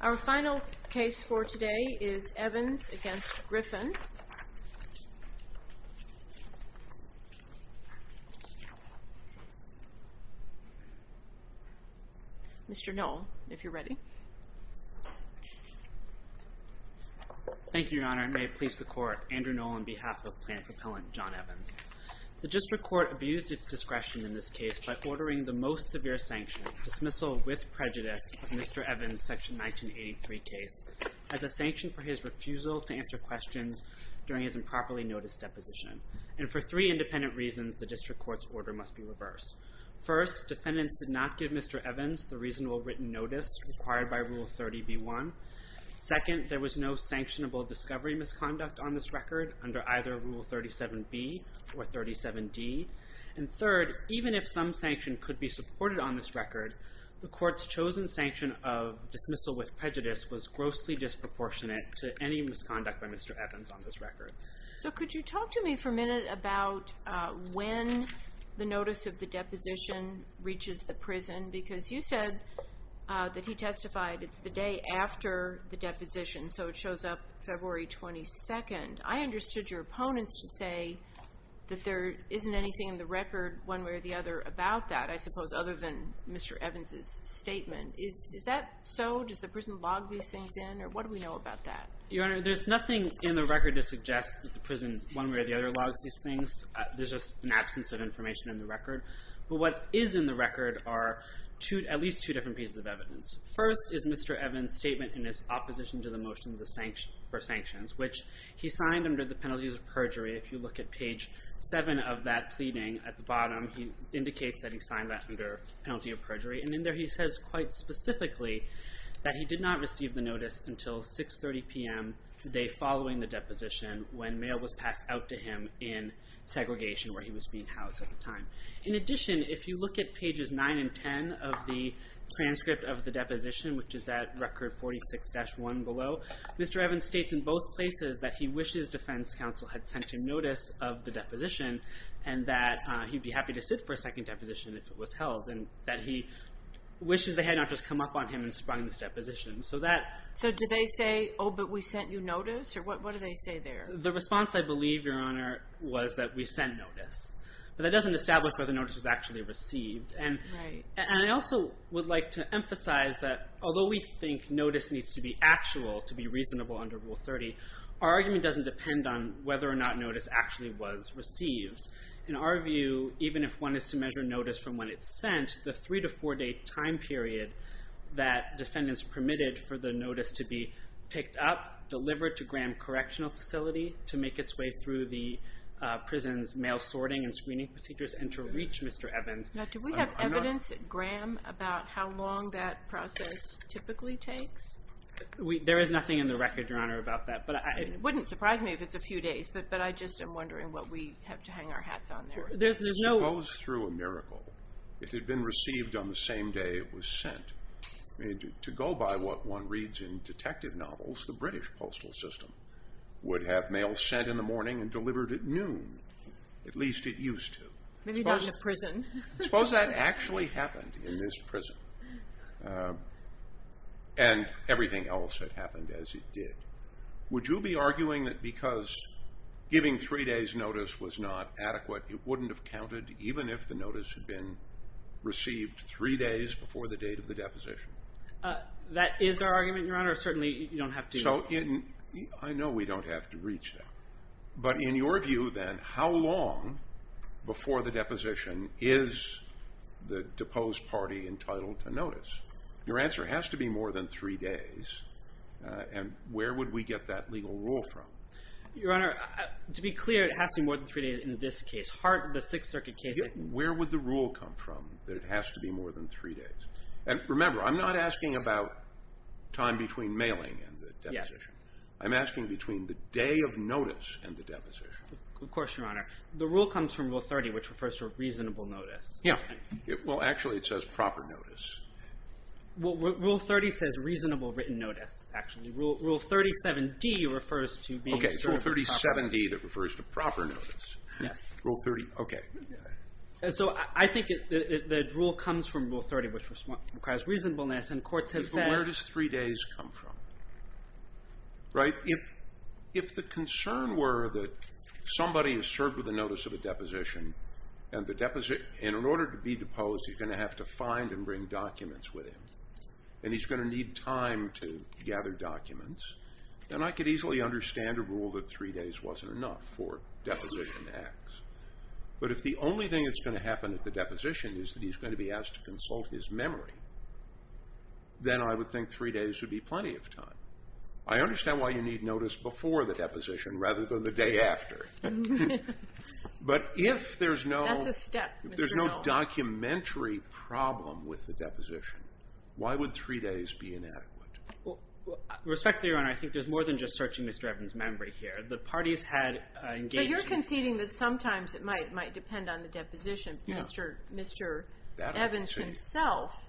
Our final case for today is Evans v. Griffin. Mr. Knoll, if you're ready. Thank you, Your Honor, and may it please the Court. Andrew Knoll on behalf of Plaintiff Appellant John Evans. The District Court abused its discretion in this case by ordering the most severe sanction, dismissal with prejudice, of Mr. Evans' Section 1983 case as a sanction for his refusal to answer questions during his improperly noticed deposition. And for three independent reasons, the District Court's order must be reversed. First, defendants did not give Mr. Evans the reasonable written notice required by Rule 30b-1. Second, there was no sanctionable discovery misconduct on this record under either Rule 37b or 37d. And third, even if some sanction could be supported on this record, the Court's chosen sanction of dismissal with prejudice was grossly disproportionate to any misconduct by Mr. Evans on this record. So could you talk to me for a minute about when the notice of the deposition reaches the prison? Because you said that he testified it's the day after the deposition, so it shows up February 22nd. I understood your opponents to say that there isn't anything in the record one way or the other about that, I suppose other than Mr. Evans' statement. Is that so? Does the prison log these things in, or what do we know about that? Your Honor, there's nothing in the record to suggest that the prison one way or the other logs these things. There's just an absence of information in the record. But what is in the record are at least two different pieces of evidence. First is Mr. Evans' statement in his opposition to the motions for sanctions, which he signed under the penalties of perjury. If you look at page 7 of that pleading at the bottom, he indicates that he signed that under penalty of perjury. And in there he says quite specifically that he did not receive the notice until 6.30 p.m. the day following the deposition when mail was passed out to him in segregation where he was being housed at the time. In addition, if you look at pages 9 and 10 of the transcript of the deposition, which is at record 46-1 below, Mr. Evans states in both places that he wishes defense counsel had sent him notice of the deposition and that he'd be happy to sit for a second deposition if it was held, and that he wishes they had not just come up on him and sprung this deposition. So do they say, oh, but we sent you notice, or what do they say there? The response, I believe, Your Honor, was that we sent notice. But that doesn't establish whether the notice was actually received. And I also would like to emphasize that although we think notice needs to be actual to be reasonable under Rule 30, our argument doesn't depend on whether or not notice actually was received. In our view, even if one is to measure notice from when it's sent, the three- to four-day time period that defendants permitted for the notice to be picked up, delivered to Graham Correctional Facility to make its way through the prison's mail sorting and screening procedures, and to reach Mr. Evans. Now, do we have evidence, Graham, about how long that process typically takes? There is nothing in the record, Your Honor, about that. It wouldn't surprise me if it's a few days, but I just am wondering what we have to hang our hats on there. If it goes through a miracle, if it had been received on the same day it was sent, to go by what one reads in detective novels, the British postal system would have mail sent in the morning and delivered at noon. At least it used to. Maybe not in a prison. Suppose that actually happened in this prison, and everything else had happened as it did. Would you be arguing that because giving three days' notice was not adequate, it wouldn't have counted even if the notice had been received three days before the date of the deposition? That is our argument, Your Honor. Certainly, you don't have to. I know we don't have to reach that. But in your view, then, how long before the deposition is the deposed party entitled to notice? Your answer has to be more than three days. And where would we get that legal rule from? Your Honor, to be clear, it has to be more than three days in this case. The Sixth Circuit case... Where would the rule come from that it has to be more than three days? And remember, I'm not asking about time between mailing and the deposition. I'm asking between the day of notice and the deposition. Of course, Your Honor. The rule comes from Rule 30, which refers to a reasonable notice. Yeah. Well, actually, it says proper notice. Rule 30 says reasonable written notice, actually. Rule 37d refers to being served properly. Okay. Rule 37d that refers to proper notice. Yes. Rule 30. Okay. So I think the rule comes from Rule 30, which requires reasonableness. And courts have said... Right? If the concern were that somebody is served with a notice of a deposition and in order to be deposed, he's going to have to find and bring documents with him and he's going to need time to gather documents, then I could easily understand a rule that three days wasn't enough for deposition acts. But if the only thing that's going to happen at the deposition is that he's going to be asked to consult his memory, then I would think three days would be plenty of time. I understand why you need notice before the deposition rather than the day after. But if there's no documentary problem with the deposition, why would three days be inadequate? Respectfully, Your Honor, I think there's more than just searching Mr. Evans' memory here. The parties had engaged... So you're conceding that sometimes it might depend on the deposition. Yeah. Mr. Evans himself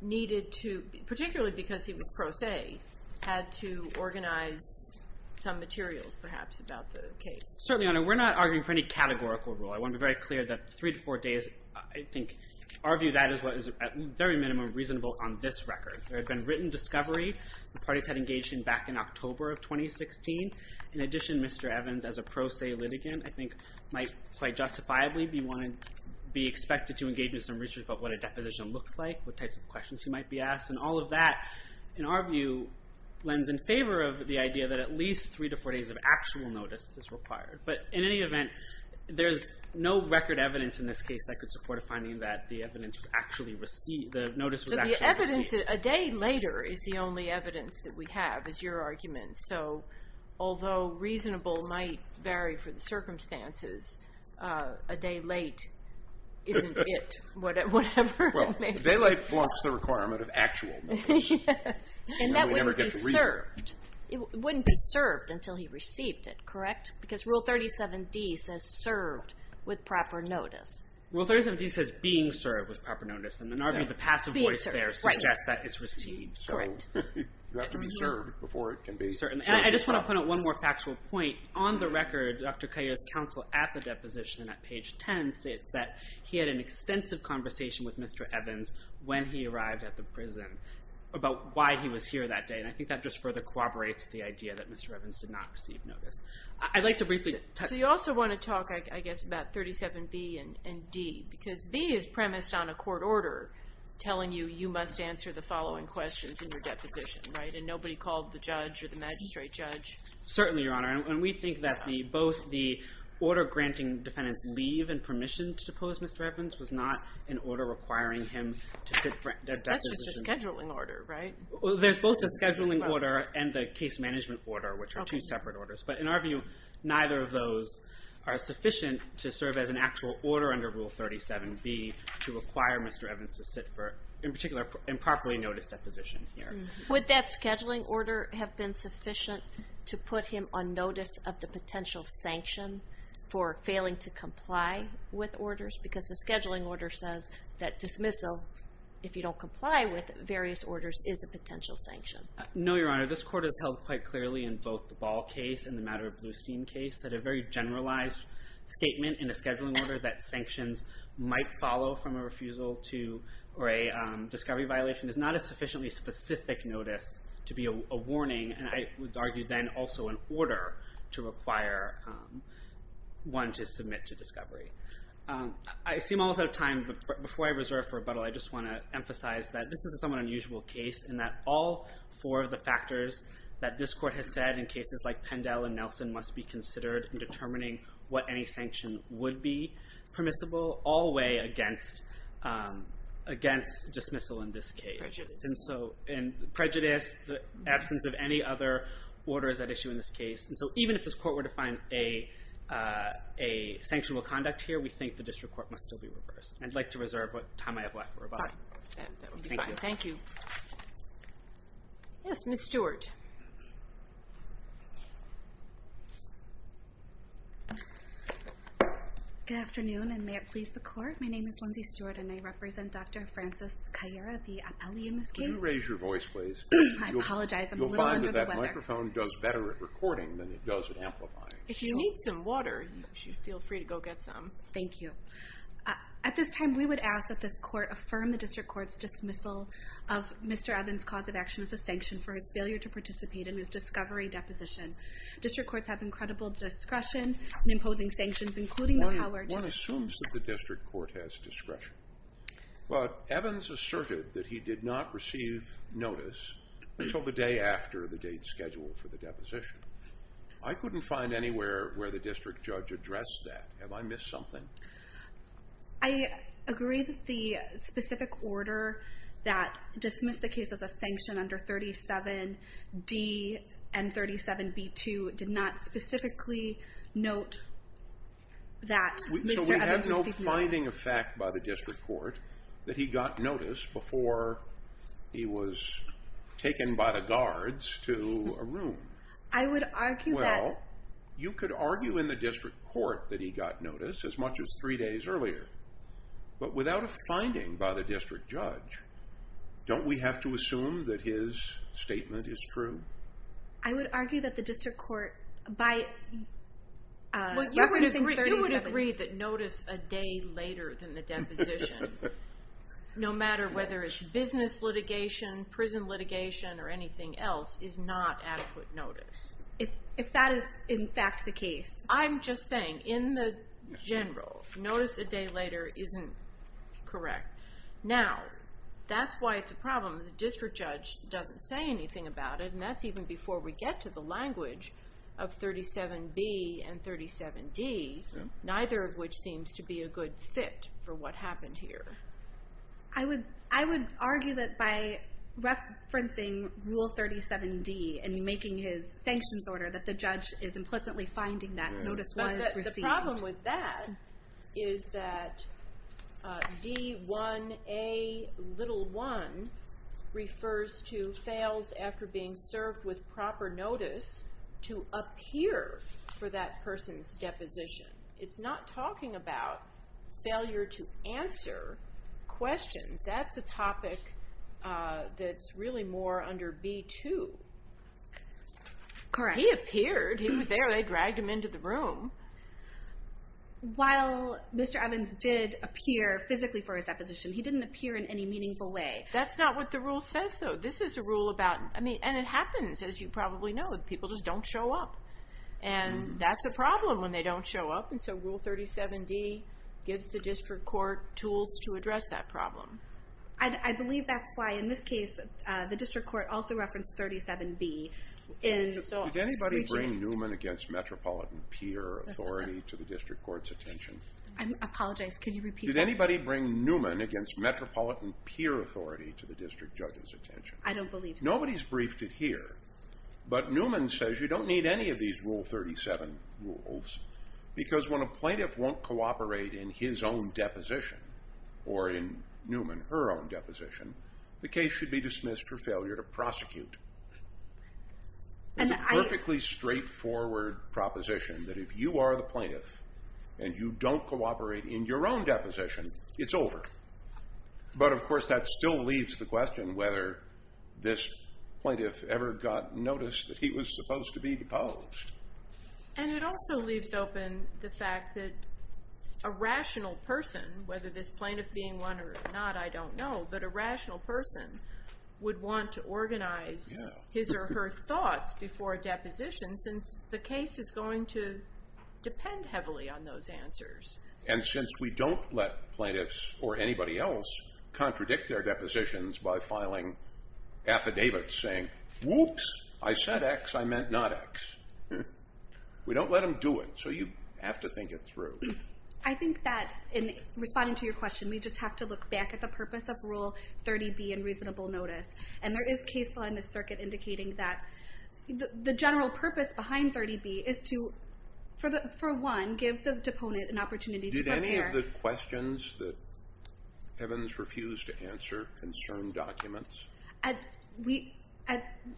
needed to, particularly because he was pro se, had to organize some materials, perhaps, about the case. Certainly, Your Honor. We're not arguing for any categorical rule. I want to be very clear that three to four days, I think, our view of that is what is, at the very minimum, reasonable on this record. There had been written discovery the parties had engaged in back in October of 2016. In addition, Mr. Evans, as a pro se litigant, I think might quite justifiably be expected to engage in some research about what a deposition looks like, what types of questions he might be asked, and all of that, in our view, lends in favor of the idea that at least three to four days of actual notice is required. But in any event, there's no record evidence in this case that could support a finding that the notice was actually received. A day later is the only evidence that we have, is your argument. Although reasonable might vary for the circumstances, a day late isn't it, whatever it may be. Well, a day late flunks the requirement of actual notice. Yes. And that wouldn't be served. It wouldn't be served until he received it, correct? Because Rule 37D says served with proper notice. Rule 37D says being served with proper notice. In our view, the passive voice there suggests that it's received. Correct. You have to be served before it can be served. And I just want to put out one more factual point. On the record, Dr. Cahill's counsel at the deposition, at page 10, states that he had an extensive conversation with Mr. Evans when he arrived at the prison about why he was here that day. And I think that just further corroborates the idea that Mr. Evans did not receive notice. I'd like to briefly touch... So you also want to talk, I guess, about 37B and D, because B is premised on a court order telling you you must answer the following questions in your deposition, right? And nobody called the judge or the magistrate judge. Certainly, Your Honor. And we think that both the order granting defendants leave and permission to depose Mr. Evans was not an order requiring him to sit for a deposition. That's just a scheduling order, right? There's both the scheduling order and the case management order, which are two separate orders. But in our view, neither of those are sufficient to serve as an actual order under Rule 37B to require Mr. Evans to sit for, in particular, improperly noticed deposition here. Would that scheduling order have been sufficient to put him on notice of the potential sanction for failing to comply with orders? Because the scheduling order says that dismissal, if you don't comply with various orders, is a potential sanction. No, Your Honor. This Court has held quite clearly in both the Ball case and the Matter of Bluestein case that a very generalized statement in a scheduling order that sanctions might follow from a refusal to, or a discovery violation, is not a sufficiently specific notice to be a warning. And I would argue then also an order to require one to submit to discovery. I seem almost out of time, but before I reserve for rebuttal, I just want to emphasize that this is a somewhat unusual case in that all four of the factors that this Court has said in cases like Pendell and Nelson must be considered in determining what any sanction would be permissible, all the way against dismissal in this case. Prejudice. Prejudice, the absence of any other order is at issue in this case. So even if this Court were to find a sanctionable conduct here, we think the District Court must still be reversed. I'd like to reserve what time I have left for rebuttal. Thank you. Yes, Ms. Stewart. Good afternoon, and may it please the Court. My name is Lindsay Stewart, and I represent Dr. Francis Caillera, the appellee in this case. Could you raise your voice, please? I apologize, I'm a little under the weather. You'll find that that microphone does better at recording than it does at amplifying. If you need some water, you should feel free to go get some. Thank you. At this time, we would ask that this Court affirm the District Court's dismissal of Mr. Evans' cause of action as a sanction for his failure to participate in his discovery deposition. District Courts have incredible discretion in imposing sanctions, including the power to dismiss... One assumes that the District Court has discretion. But Evans asserted that he did not receive notice until the day after the date scheduled for the deposition. I couldn't find anywhere where the District Judge addressed that. Have I missed something? I agree that the specific order that dismissed the case as a sanction under 37D and 37B2 did not specifically note that Mr. Evans received notice. So we have no finding of fact by the District Court that he got notice before he was taken by the guards to a room. I would argue that... Well, you could argue in the District Court that he got notice as much as three days earlier. But without a finding by the District Judge, don't we have to assume that his statement is true? I would argue that the District Court, by referencing 37... You would agree that notice a day later than the deposition, no matter whether it's business litigation, prison litigation, or anything else, is not adequate notice. If that is, in fact, the case. I'm just saying, in the general, notice a day later isn't correct. Now, that's why it's a problem. The District Judge doesn't say anything about it, and that's even before we get to the language of 37B and 37D, neither of which seems to be a good fit for what happened here. I would argue that by referencing Rule 37D and making his sanctions order, that the judge is implicitly finding that notice was received. The problem with that is that D1A1 refers to fails after being served with proper notice to appear for that person's deposition. It's not talking about failure to answer questions. That's a topic that's really more under B2. Correct. He appeared. He was there. They dragged him into the room. While Mr. Evans did appear physically for his deposition, he didn't appear in any meaningful way. That's not what the rule says, though. This is a rule about... And it happens, as you probably know, that people just don't show up. That's a problem when they don't show up, and so Rule 37D gives the district court tools to address that problem. I believe that's why, in this case, the district court also referenced 37B. Did anybody bring Newman against metropolitan peer authority to the district court's attention? I apologize. Can you repeat that? Did anybody bring Newman against metropolitan peer authority to the district judge's attention? I don't believe so. Nobody's briefed it here, but Newman says you don't need any of these Rule 37 rules because when a plaintiff won't cooperate in his own deposition or in Newman, her own deposition, the case should be dismissed for failure to prosecute. It's a perfectly straightforward proposition that if you are the plaintiff and you don't cooperate in your own deposition, it's over. But, of course, that still leaves the question whether this plaintiff ever got notice that he was supposed to be deposed. And it also leaves open the fact that a rational person, whether this plaintiff being one or not, I don't know, but a rational person would want to organize his or her thoughts before a deposition since the case is going to depend heavily on those answers. And since we don't let plaintiffs or anybody else contradict their depositions by filing affidavits saying, whoops, I said X, I meant not X, we don't let them do it. So you have to think it through. I think that in responding to your question, we just have to look back at the purpose of Rule 30B and reasonable notice. And there is case law in this circuit indicating that the general purpose behind 30B is to, for one, give the deponent an opportunity to prepare. Did any of the questions that Evans refused to answer concern documents?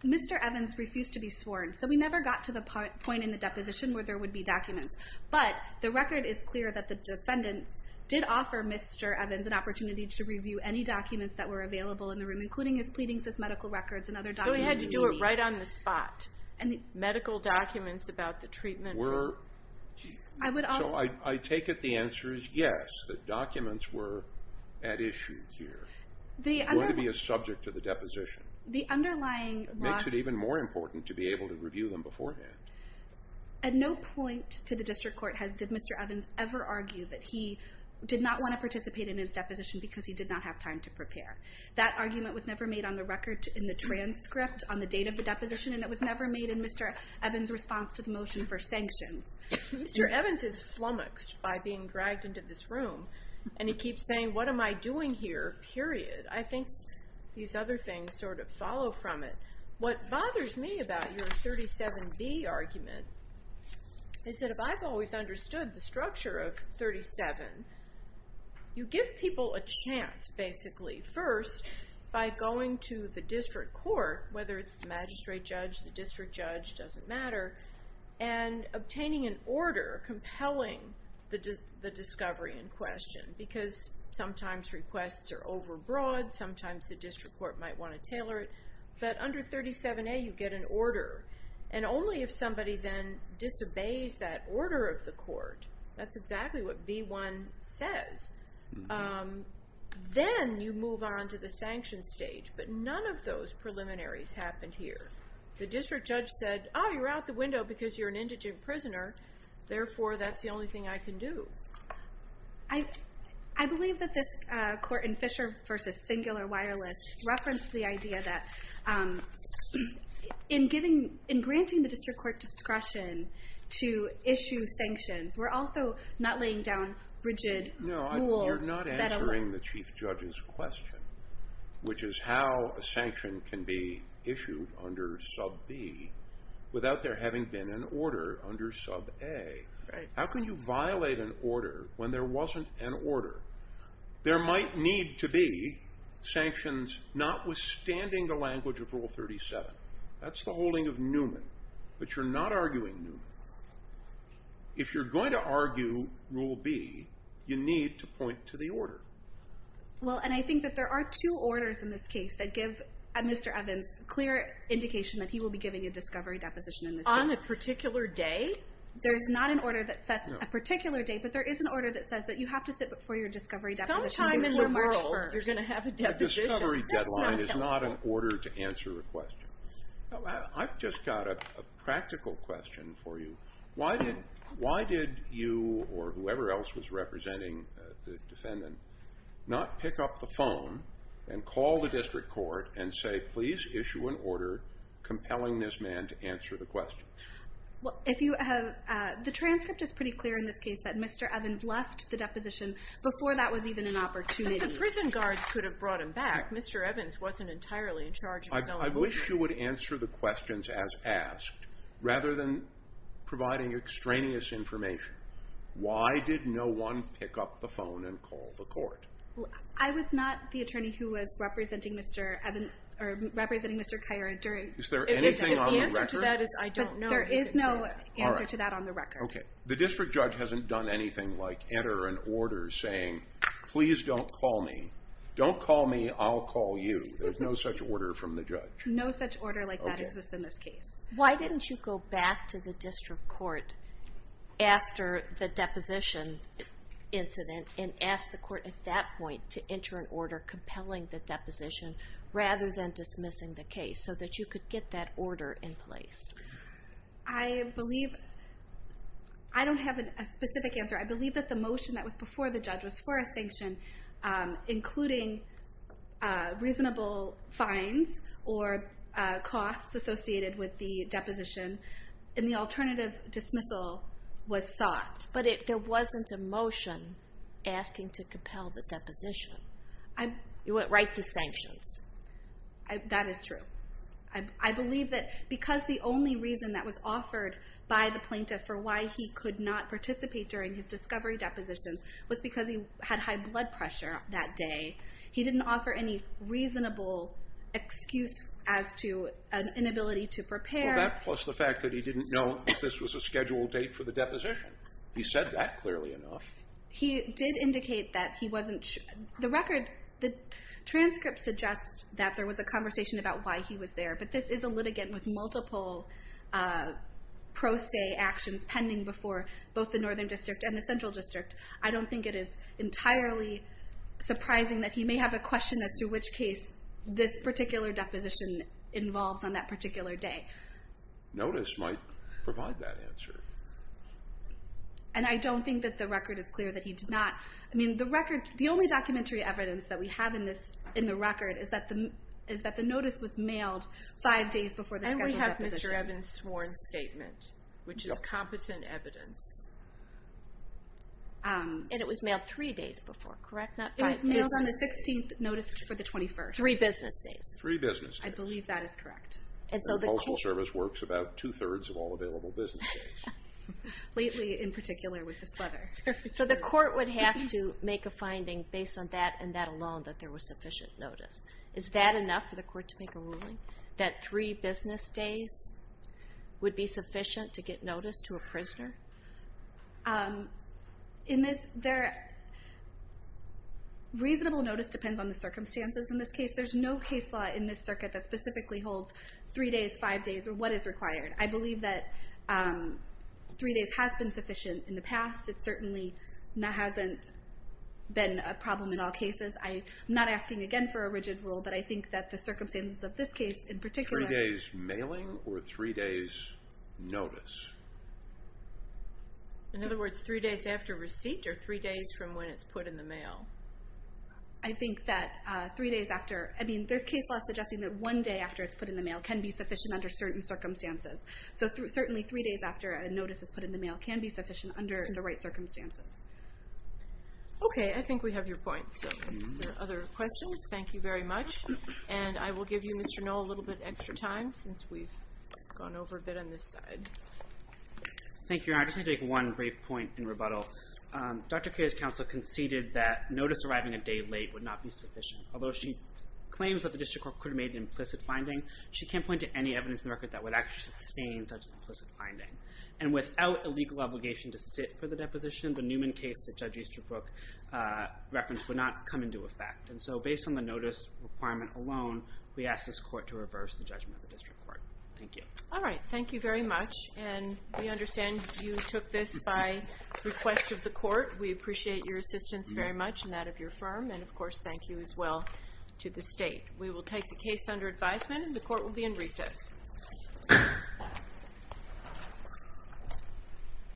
Mr. Evans refused to be sworn, so we never got to the point in the deposition where there would be documents. But the record is clear that the defendants did offer Mr. Evans an opportunity to review any documents that were available in the room, including his pleadings as medical records and other documents he needed. So he had to do it right on the spot. And the medical documents about the treatment were... I would also... So I take it the answer is yes, that documents were at issue here. It's going to be a subject to the deposition. It makes it even more important to be able to review them beforehand. At no point to the district court did Mr. Evans ever argue that he did not want to participate in his deposition because he did not have time to prepare. That argument was never made on the record in the transcript, on the date of the deposition, and it was never made in Mr. Evans' response to the motion for sanctions. Mr. Evans is flummoxed by being dragged into this room, and he keeps saying, what am I doing here, period? I think these other things sort of follow from it. What bothers me about your 37B argument is that if I've always understood the structure of 37, you give people a chance, basically, first by going to the district court, whether it's the magistrate judge, the district judge, doesn't matter, and obtaining an order compelling the discovery in question because sometimes requests are overbroad, sometimes the district court might want to tailor it, but under 37A you get an order, and only if somebody then disobeys that order of the court, that's exactly what B1 says, then you move on to the sanction stage, but none of those preliminaries happened here. The district judge said, oh, you're out the window because you're an indigent prisoner, therefore that's the only thing I can do. I believe that this Court in Fisher v. Singular Wireless referenced the idea that in granting the district court discretion to issue sanctions, we're also not laying down rigid rules. No, you're not answering the chief judge's question, which is how a sanction can be issued under sub B without there having been an order under sub A. How can you violate an order when there wasn't an order? There might need to be sanctions notwithstanding the language of Rule 37. That's the holding of Newman, but you're not arguing Newman. If you're going to argue Rule B, you need to point to the order. Well, and I think that there are two orders in this case that give Mr. Evans clear indication that he will be giving a discovery deposition in this case. On a particular day? There's not an order that sets a particular day, but there is an order that says that you have to sit before your discovery deposition. Sometime in the world, you're going to have a deposition. A discovery deadline is not an order to answer a question. I've just got a practical question for you. Why did you, or whoever else was representing the defendant, not pick up the phone and call the district court and say, please issue an order compelling this man to answer the question? The transcript is pretty clear in this case that Mr. Evans left the deposition before that was even an opportunity. If the prison guards could have brought him back, Mr. Evans wasn't entirely in charge of his own defense. I wish you would answer the questions as asked rather than providing extraneous information. Why did no one pick up the phone and call the court? I was not the attorney who was representing Mr. Kyra. Is there anything on the record? There is no answer to that on the record. The district judge hasn't done anything like enter an order saying, please don't call me. Don't call me, I'll call you. There's no such order from the judge. No such order like that exists in this case. Why didn't you go back to the district court after the deposition incident and ask the court at that point to enter an order compelling the deposition rather than dismissing the case so that you could get that order in place? I don't have a specific answer. I believe that the motion that was before the judge was for a sanction, including reasonable fines or costs associated with the deposition, and the alternative dismissal was sought. But there wasn't a motion asking to compel the deposition. It went right to sanctions. That is true. I believe that because the only reason that was offered by the plaintiff for why he could not participate during his discovery deposition was because he had high blood pressure that day, he didn't offer any reasonable excuse as to an inability to prepare. Well, that plus the fact that he didn't know that this was a scheduled date for the deposition. He said that clearly enough. He did indicate that he wasn't sure. The transcript suggests that there was a conversation about why he was there, but this is a litigant with multiple pro se actions pending before both the Northern District and the Central District. I don't think it is entirely surprising that he may have a question as to which case this particular deposition involves on that particular day. Notice might provide that answer. And I don't think that the record is clear that he did not. The only documentary evidence that we have in the record is that the notice was mailed five days before the scheduled deposition. And we have Mr. Evans' sworn statement, which is competent evidence. And it was mailed three days before, correct? It was mailed on the 16th notice for the 21st. Three business days. Three business days. I believe that is correct. And the Postal Service works about two-thirds of all available business days. Lately, in particular, with this weather. So the court would have to make a finding based on that and that alone that there was sufficient notice. Is that enough for the court to make a ruling, that three business days would be sufficient to get notice to a prisoner? In this, reasonable notice depends on the circumstances in this case. There's no case law in this circuit that specifically holds three days, five days, or what is required. I believe that three days has been sufficient in the past. It certainly hasn't been a problem in all cases. I'm not asking again for a rigid rule, but I think that the circumstances of this case in particular. Three days mailing or three days notice? In other words, three days after receipt or three days from when it's put in the mail? I think that three days after. I mean, there's case law suggesting that one day after it's put in the mail can be sufficient under certain circumstances. So certainly three days after a notice is put in the mail can be sufficient under the right circumstances. Okay, I think we have your point. So if there are other questions, thank you very much. And I will give you, Mr. Noll, a little bit extra time since we've gone over a bit on this side. Thank you. I just need to make one brief point in rebuttal. Dr. Kaye's counsel conceded that notice arriving a day late would not be sufficient. Although she claims that the district court could have made an implicit finding, she can't point to any evidence in the record that would actually sustain such an implicit finding. And without a legal obligation to sit for the deposition, the Newman case that Judge Easterbrook referenced would not come into effect. And so based on the notice requirement alone, we ask this court to reverse the judgment of the district court. Thank you. All right. Thank you very much. And we understand you took this by request of the court. We appreciate your assistance very much and that of your firm. And, of course, thank you as well to the state. We will take the case under advisement, and the court will be in recess. Thank you.